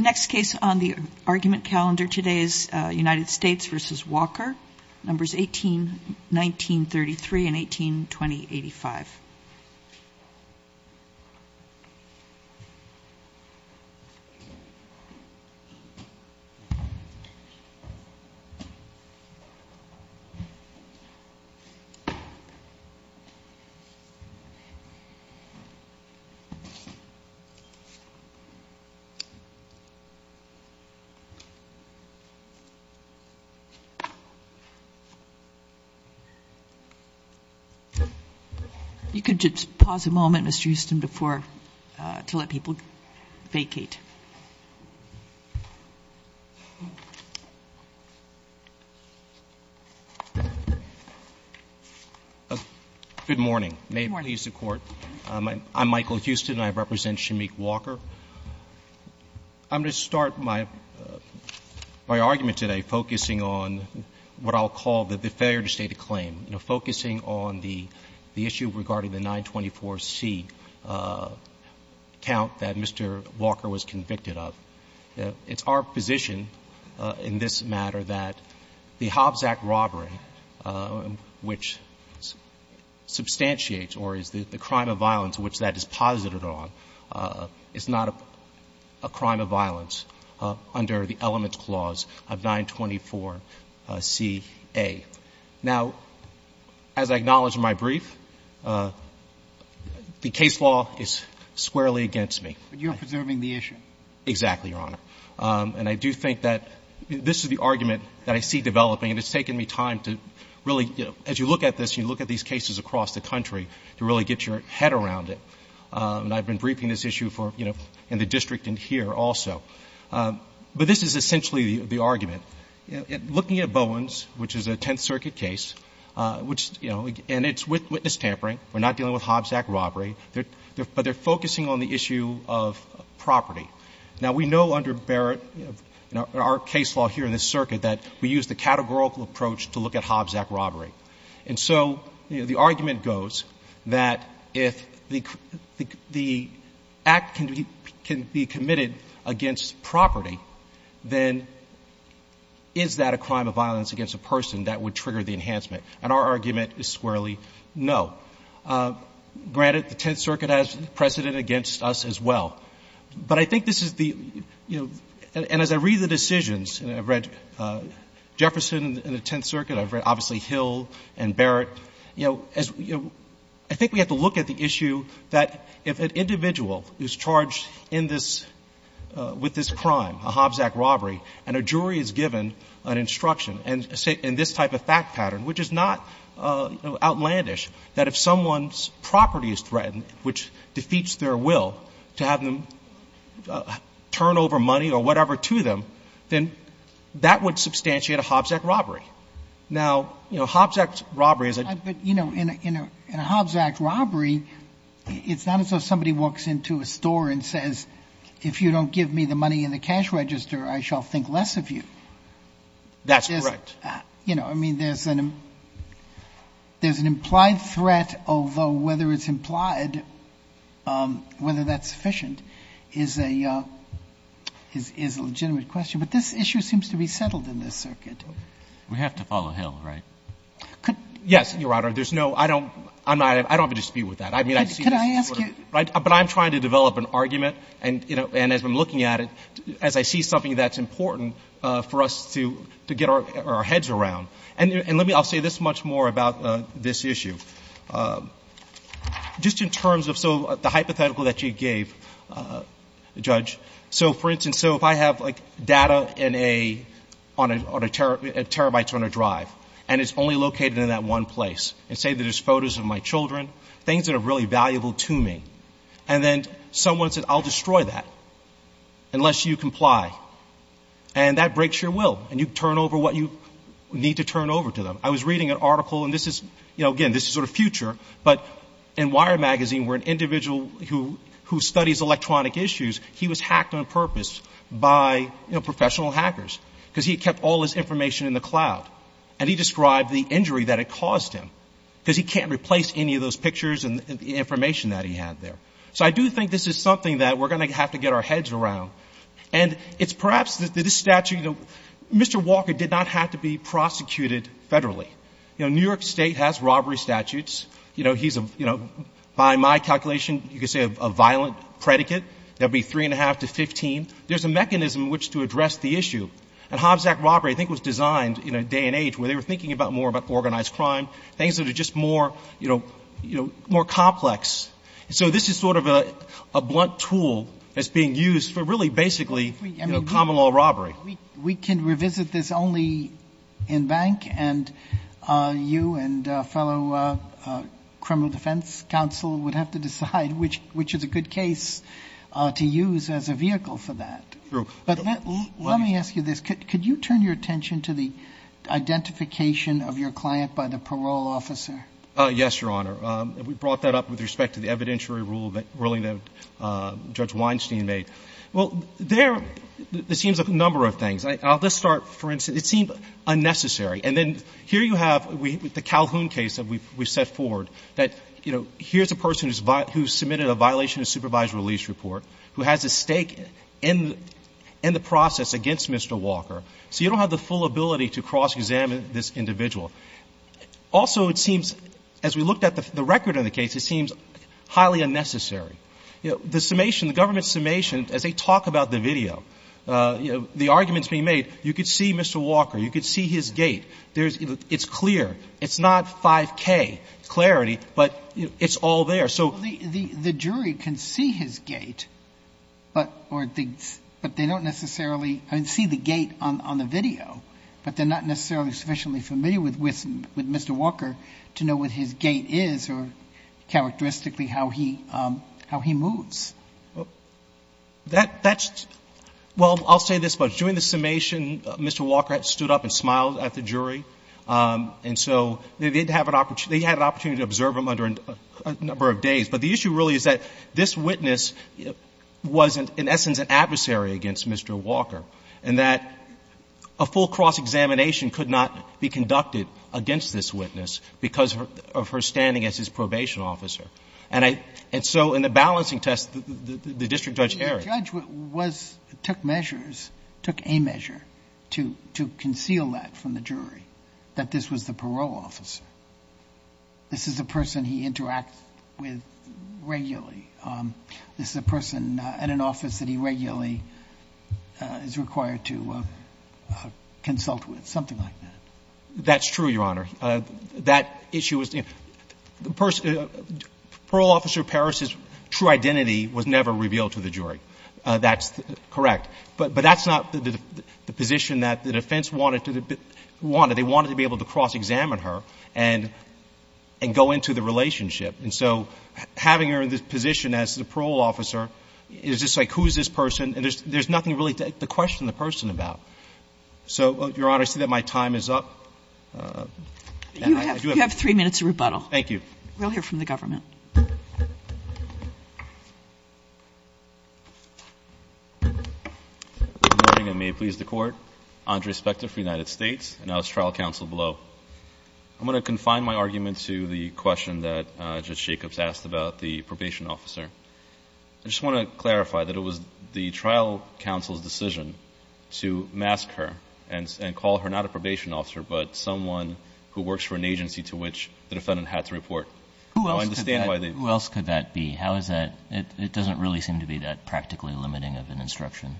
The next case on the argument calendar today is U.S. v. Walker, numbers 18-1933 and 18-2085. You can just pause a moment, Mr. Houston, to let people vacate. Good morning. May it please the Court. I'm Michael Houston. I represent Shameik Walker. I'm going to start my argument today focusing on what I'll call the failure to state a claim, you know, focusing on the issue regarding the 924C count that Mr. Walker was convicted of. It's our position in this matter that the Hobbs Act robbery, which substantiates or is the crime of violence which that is posited on, is not a crime of violence under the Elements Clause of 924Ca. Now, as I acknowledged in my brief, the case law is squarely against me. But you're preserving the issue. Exactly, Your Honor. And I do think that this is the argument that I see developing, and it's taken me time to really, you know, as you look at this, you look at these cases across the country to really get your head around it. And I've been briefing this issue for, you know, in the district and here also. But this is essentially the argument. Looking at Bowen's, which is a Tenth Circuit case, which, you know, and it's with witness tampering. We're not dealing with Hobbs Act robbery. But they're focusing on the issue of property. Now, we know under Barrett, you know, our case law here in this circuit that we use the categorical approach to look at Hobbs Act robbery. And so, you know, the argument goes that if the act can be committed against property, then is that a crime of violence against a person that would trigger the enhancement? And our argument is squarely no. Granted, the Tenth Circuit has precedent against us as well. But I think this is the, you know, and as I read the decisions, and I've read Jefferson and the Tenth Circuit, I've read, obviously, Hill and Barrett, you know, as, you know, I think we have to look at the issue that if an individual is charged in this, with this crime, a Hobbs Act robbery, and a jury is given an instruction, and this type of fact pattern, which is not outlandish, that if someone's property is threatened, which defeats their will, to have them turn over money or whatever to them, then that would substantiate a Hobbs Act robbery. Now, you know, Hobbs Act robbery is a ---- Sotomayor, but, you know, in a Hobbs Act robbery, it's not as though somebody walks into a store and says, if you don't give me the money in the cash register, I shall think less of you. That's correct. You know, I mean, there's an implied threat, although whether it's implied, whether that's sufficient is a legitimate question. But this issue seems to be settled in this circuit. We have to follow Hill, right? Yes, Your Honor. There's no ---- I don't have a dispute with that. I mean, I see this as sort of ---- Could I ask you ---- But I'm trying to develop an argument, and as I'm looking at it, as I see something that's important for us to get our heads around. And let me ---- I'll say this much more about this issue. Just in terms of the hypothetical that you gave, Judge, so, for instance, so if I have, like, data in a ---- on a terabyte on a drive, and it's only located in that one place, and say that there's photos of my children, things that are really valuable to me, and then someone said, I'll destroy that unless you comply, and that breaks your will, and you turn over what you need to turn over to them. I was reading an article, and this is, you know, again, this is sort of future, but in Wire Magazine, where an individual who studies electronic issues, he was hacked on purpose by, you know, professional hackers, because he kept all his information in the cloud, and he described the injury that it caused him, because he can't replace any of those pictures and the information that he had there. So I do think this is something that we're going to have to get our heads around. And it's perhaps that this statute, you know, Mr. Walker did not have to be prosecuted federally. You know, New York State has robbery statutes. You know, he's, you know, by my calculation, you could say a violent predicate. That would be 3 1⁄2 to 15. There's a mechanism in which to address the issue. And Hobbs Act robbery, I think, was designed in a day and age where they were thinking about more about organized crime, things that are just more, you know, more complex. So this is sort of a blunt tool that's being used for really basically, you know, common law robbery. We can revisit this only in bank, and you and fellow criminal defense counsel would have to decide which is a good case to use as a vehicle for that. True. But let me ask you this. Could you turn your attention to the identification of your client by the parole officer? Yes, Your Honor. We brought that up with respect to the evidentiary rule that Judge Weinstein made. Well, there, it seems a number of things. I'll just start, for instance, it seemed unnecessary. And then here you have the Calhoun case that we've set forward, that, you know, here's a person who's submitted a violation of supervised release report, who has a stake in the process against Mr. Walker. So you don't have the full ability to cross-examine this individual. Also, it seems, as we looked at the record of the case, it seems highly unnecessary. You know, the summation, the government's summation, as they talk about the video, you know, the arguments being made, you could see Mr. Walker, you could see his gait. It's clear. It's not 5K clarity, but it's all there. So the jury can see his gait, but they don't necessarily, I mean, see the gait on the video, but they're not necessarily sufficiently familiar with Mr. Walker to know what his gait is or, characteristically, how he moves. That's — well, I'll say this much. During the summation, Mr. Walker stood up and smiled at the jury. And so they did have an — they had an opportunity to observe him under a number of days. But the issue really is that this witness wasn't, in essence, an adversary against Mr. Walker, and that a full cross-examination could not be conducted against this witness because of her standing as his probation officer. And I — and so in the balancing test, the district judge erred. Sotomayor, the judge was — took measures, took a measure to conceal that from the jury, that this was the parole officer. This is a person he interacts with regularly. This is a person at an office that he regularly is required to consult with, something like that. That's true, Your Honor. That issue was — the person — parole officer Parris's true identity was never revealed to the jury. That's correct. But that's not the position that the defense wanted to — wanted. They wanted to be able to cross-examine her and go into the relationship. And so having her in this position as the parole officer is just like, who is this person? And there's nothing really to question the person about. So, Your Honor, I see that my time is up. You have three minutes of rebuttal. Thank you. We'll hear from the government. Good morning, and may it please the Court. Andre Spector for the United States, and I was trial counsel below. I'm going to confine my argument to the question that Judge Jacobs asked about the probation officer. I just want to clarify that it was the trial counsel's decision to mask her and call her not a probation officer, but someone who works for an agency to which the defendant had to report. Who else could that be? How is that — it doesn't really seem to be that practically limiting of an instruction.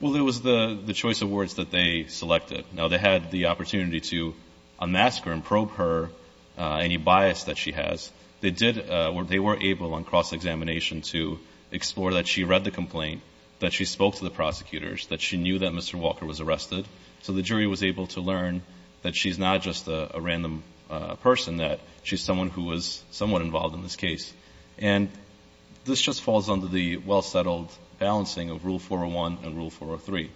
Well, it was the choice of words that they selected. Now, they had the opportunity to unmask her and probe her, any bias that she has. They were able on cross-examination to explore that she read the complaint, that she spoke to the prosecutors, that she knew that Mr. Walker was arrested, so the jury was able to learn that she's not just a random person, that she's someone who was somewhat involved in this case. And this just falls under the well-settled balancing of Rule 401 and Rule 403.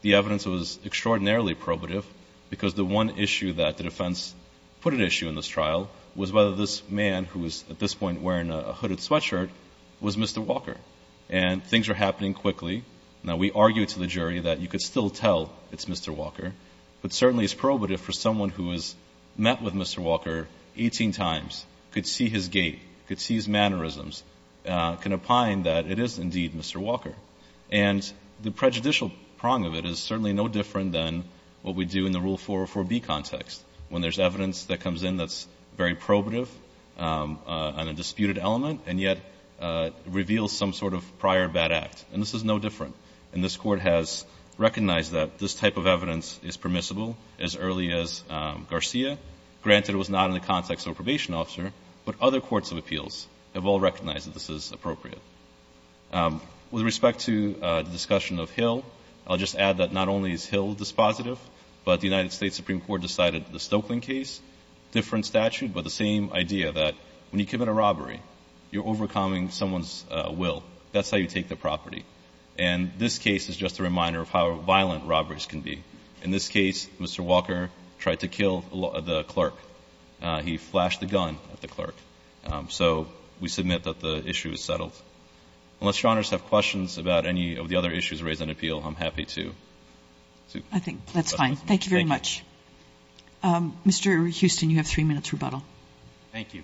The evidence was extraordinarily probative because the one issue that the defense put at issue in this trial was whether this man, who was at this point wearing a hooded sweatshirt, was Mr. Walker. And things were happening quickly. Now, we argued to the jury that you could still tell it's Mr. Walker, but certainly it's probative for someone who has met with Mr. Walker 18 times, could see his gait, could see his mannerisms, can opine that it is indeed Mr. Walker. And the prejudicial prong of it is certainly no different than what we do in the Rule 404b context, when there's evidence that comes in that's very probative and a disputed element, and yet reveals some sort of prior bad act. And this is no different. And this Court has recognized that this type of evidence is permissible as early as Garcia. Granted, it was not in the context of a probation officer, but other courts of appeals have all recognized that this is appropriate. With respect to the discussion of Hill, I'll just add that not only is Hill dispositive, but the United States Supreme Court decided the Stokelyn case, different statute, but the same idea that when you commit a robbery, you're overcoming someone's will. That's how you take the property. And this case is just a reminder of how violent robberies can be. In this case, Mr. Walker tried to kill the clerk. He flashed the gun at the clerk. So we submit that the issue is settled. Unless Your Honors have questions about any of the other issues raised in appeal, I'm happy to. I think that's fine. Thank you very much. Mr. Houston, you have three minutes rebuttal. Thank you.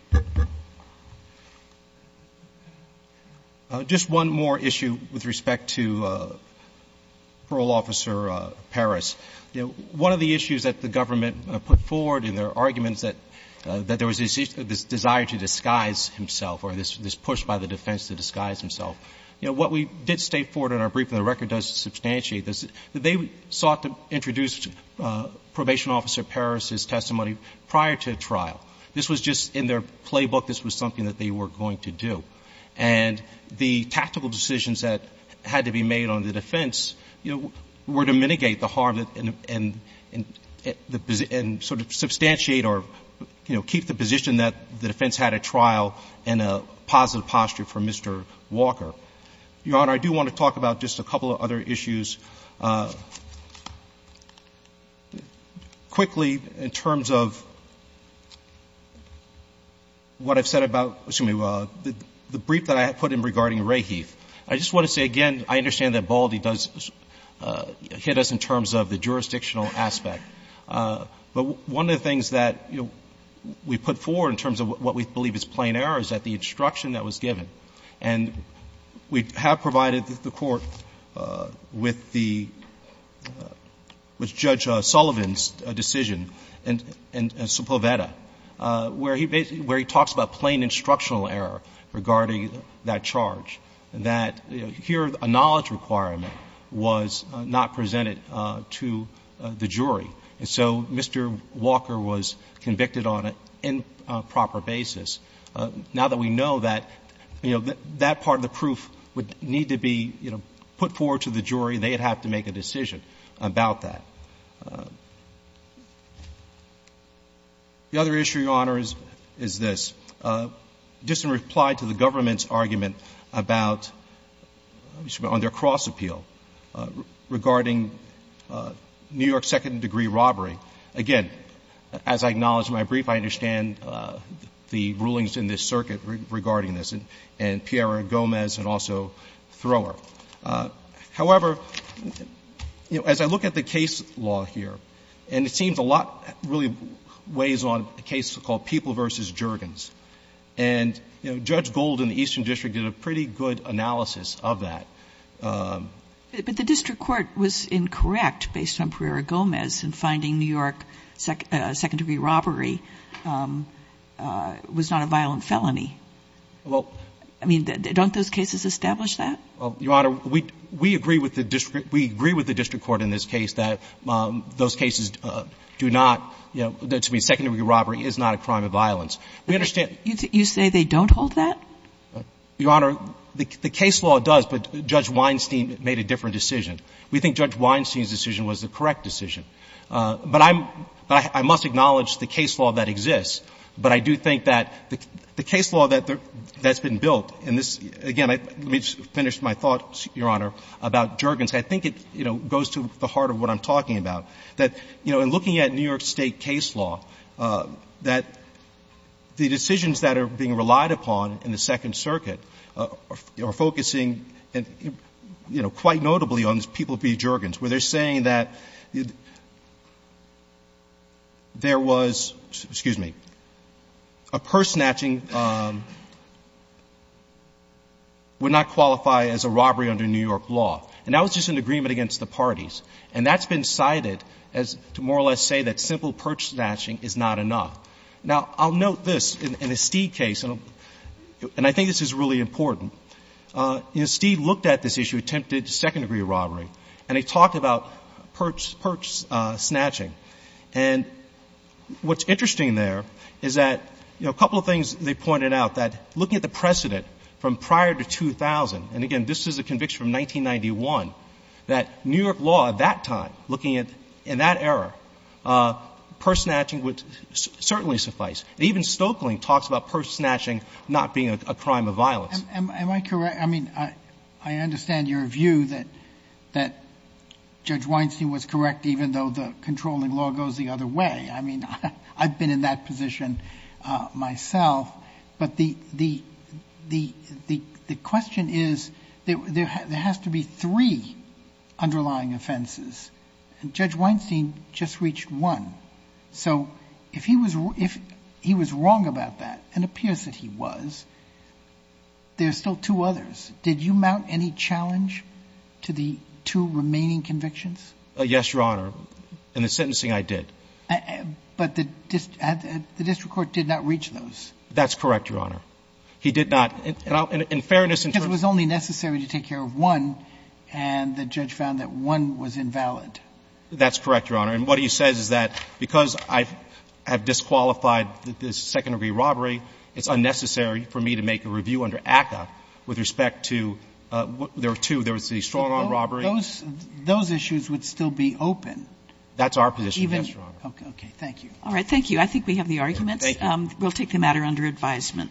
Just one more issue with respect to Parole Officer Parris. You know, one of the issues that the government put forward in their arguments that there was this desire to disguise himself or this push by the defense to disguise himself. You know, what we did state forward in our briefing, the record does substantiate this, that they sought to introduce Probation Officer Parris' testimony prior to trial. This was just in their playbook. This was something that they were going to do. And the tactical decisions that had to be made on the defense, you know, were to mitigate the harm and sort of substantiate or, you know, keep the position that the defense had at trial in a positive posture for Mr. Walker. Your Honor, I do want to talk about just a couple of other issues. Quickly, in terms of what I've said about, excuse me, the brief that I had put in regarding Raheith, I just want to say again, I understand that Baldy does hit us in terms of the jurisdictional aspect. But one of the things that, you know, we put forward in terms of what we believe is plain error is that the instruction that was given. And we have provided the Court with the Judge Sullivan's decision in Supoveta, where he basically, where he talks about plain instructional error regarding that charge. That, you know, here a knowledge requirement was not presented to the jury. And so Mr. Walker was convicted on an improper basis. Now that we know that, you know, that part of the proof would need to be, you know, put forward to the jury, they would have to make a decision about that. The other issue, Your Honor, is this. Just in reply to the government's argument about, excuse me, on their cross appeal regarding New York's second-degree robbery, again, as I acknowledge in my brief, I understand the rulings in this circuit regarding this, and Piera Gomez and also Thrower. However, you know, as I look at the case law here, and it seems a lot really weighs on a case called People v. Juergens. And, you know, Judge Gold in the Eastern District did a pretty good analysis of that. But the district court was incorrect based on Piera Gomez in finding New York second-degree robbery was not a violent felony. Well, I mean, don't those cases establish that? Well, Your Honor, we agree with the district court in this case that those cases do not, you know, that to me second-degree robbery is not a crime of violence. We understand. You say they don't hold that? Your Honor, the case law does, but Judge Weinstein made a different decision. We think Judge Weinstein's decision was the correct decision. But I must acknowledge the case law that exists. But I do think that the case law that's been built, and this, again, let me just finish my thoughts, Your Honor, about Juergens. I think it, you know, goes to the heart of what I'm talking about, that, you know, in looking at New York State case law, that the decisions that are being relied upon in the Second Circuit are focusing, you know, quite notably on these people v. Juergens, where they're saying that there was, excuse me, a purse snatching would not qualify as a robbery under New York law. And that was just an agreement against the parties. And that's been cited as to more or less say that simple purse snatching is not enough. Now, I'll note this. In a Stead case, and I think this is really important, you know, Stead looked at this issue, attempted second-degree robbery, and he talked about purse snatching. And what's interesting there is that, you know, a couple of things they pointed out, that looking at the precedent from prior to 2000, and again, this is a conviction from 1991, that New York law at that time, looking at, in that era, purse snatching would certainly suffice. Even Stoeckling talks about purse snatching not being a crime of violence. Am I correct? I mean, I understand your view that Judge Weinstein was correct, even though the controlling law goes the other way. I mean, I've been in that position myself. But the question is, there has to be three underlying offenses. And Judge Weinstein just reached one. So if he was wrong about that, and it appears that he was, there's still two others. Did you mount any challenge to the two remaining convictions? Yes, Your Honor. In the sentencing, I did. But the district court did not reach those. That's correct, Your Honor. He did not. And in fairness, in terms of the judge found that one was invalid. That's correct, Your Honor. And what he says is that, because I have disqualified the second-degree robbery, it's unnecessary for me to make a review under ACCA with respect to there are two. There was the strong-arm robbery. Those issues would still be open. That's our position, yes, Your Honor. Okay. Thank you. All right. Thank you. I think we have the arguments. Thank you. We'll take the matter under advisement.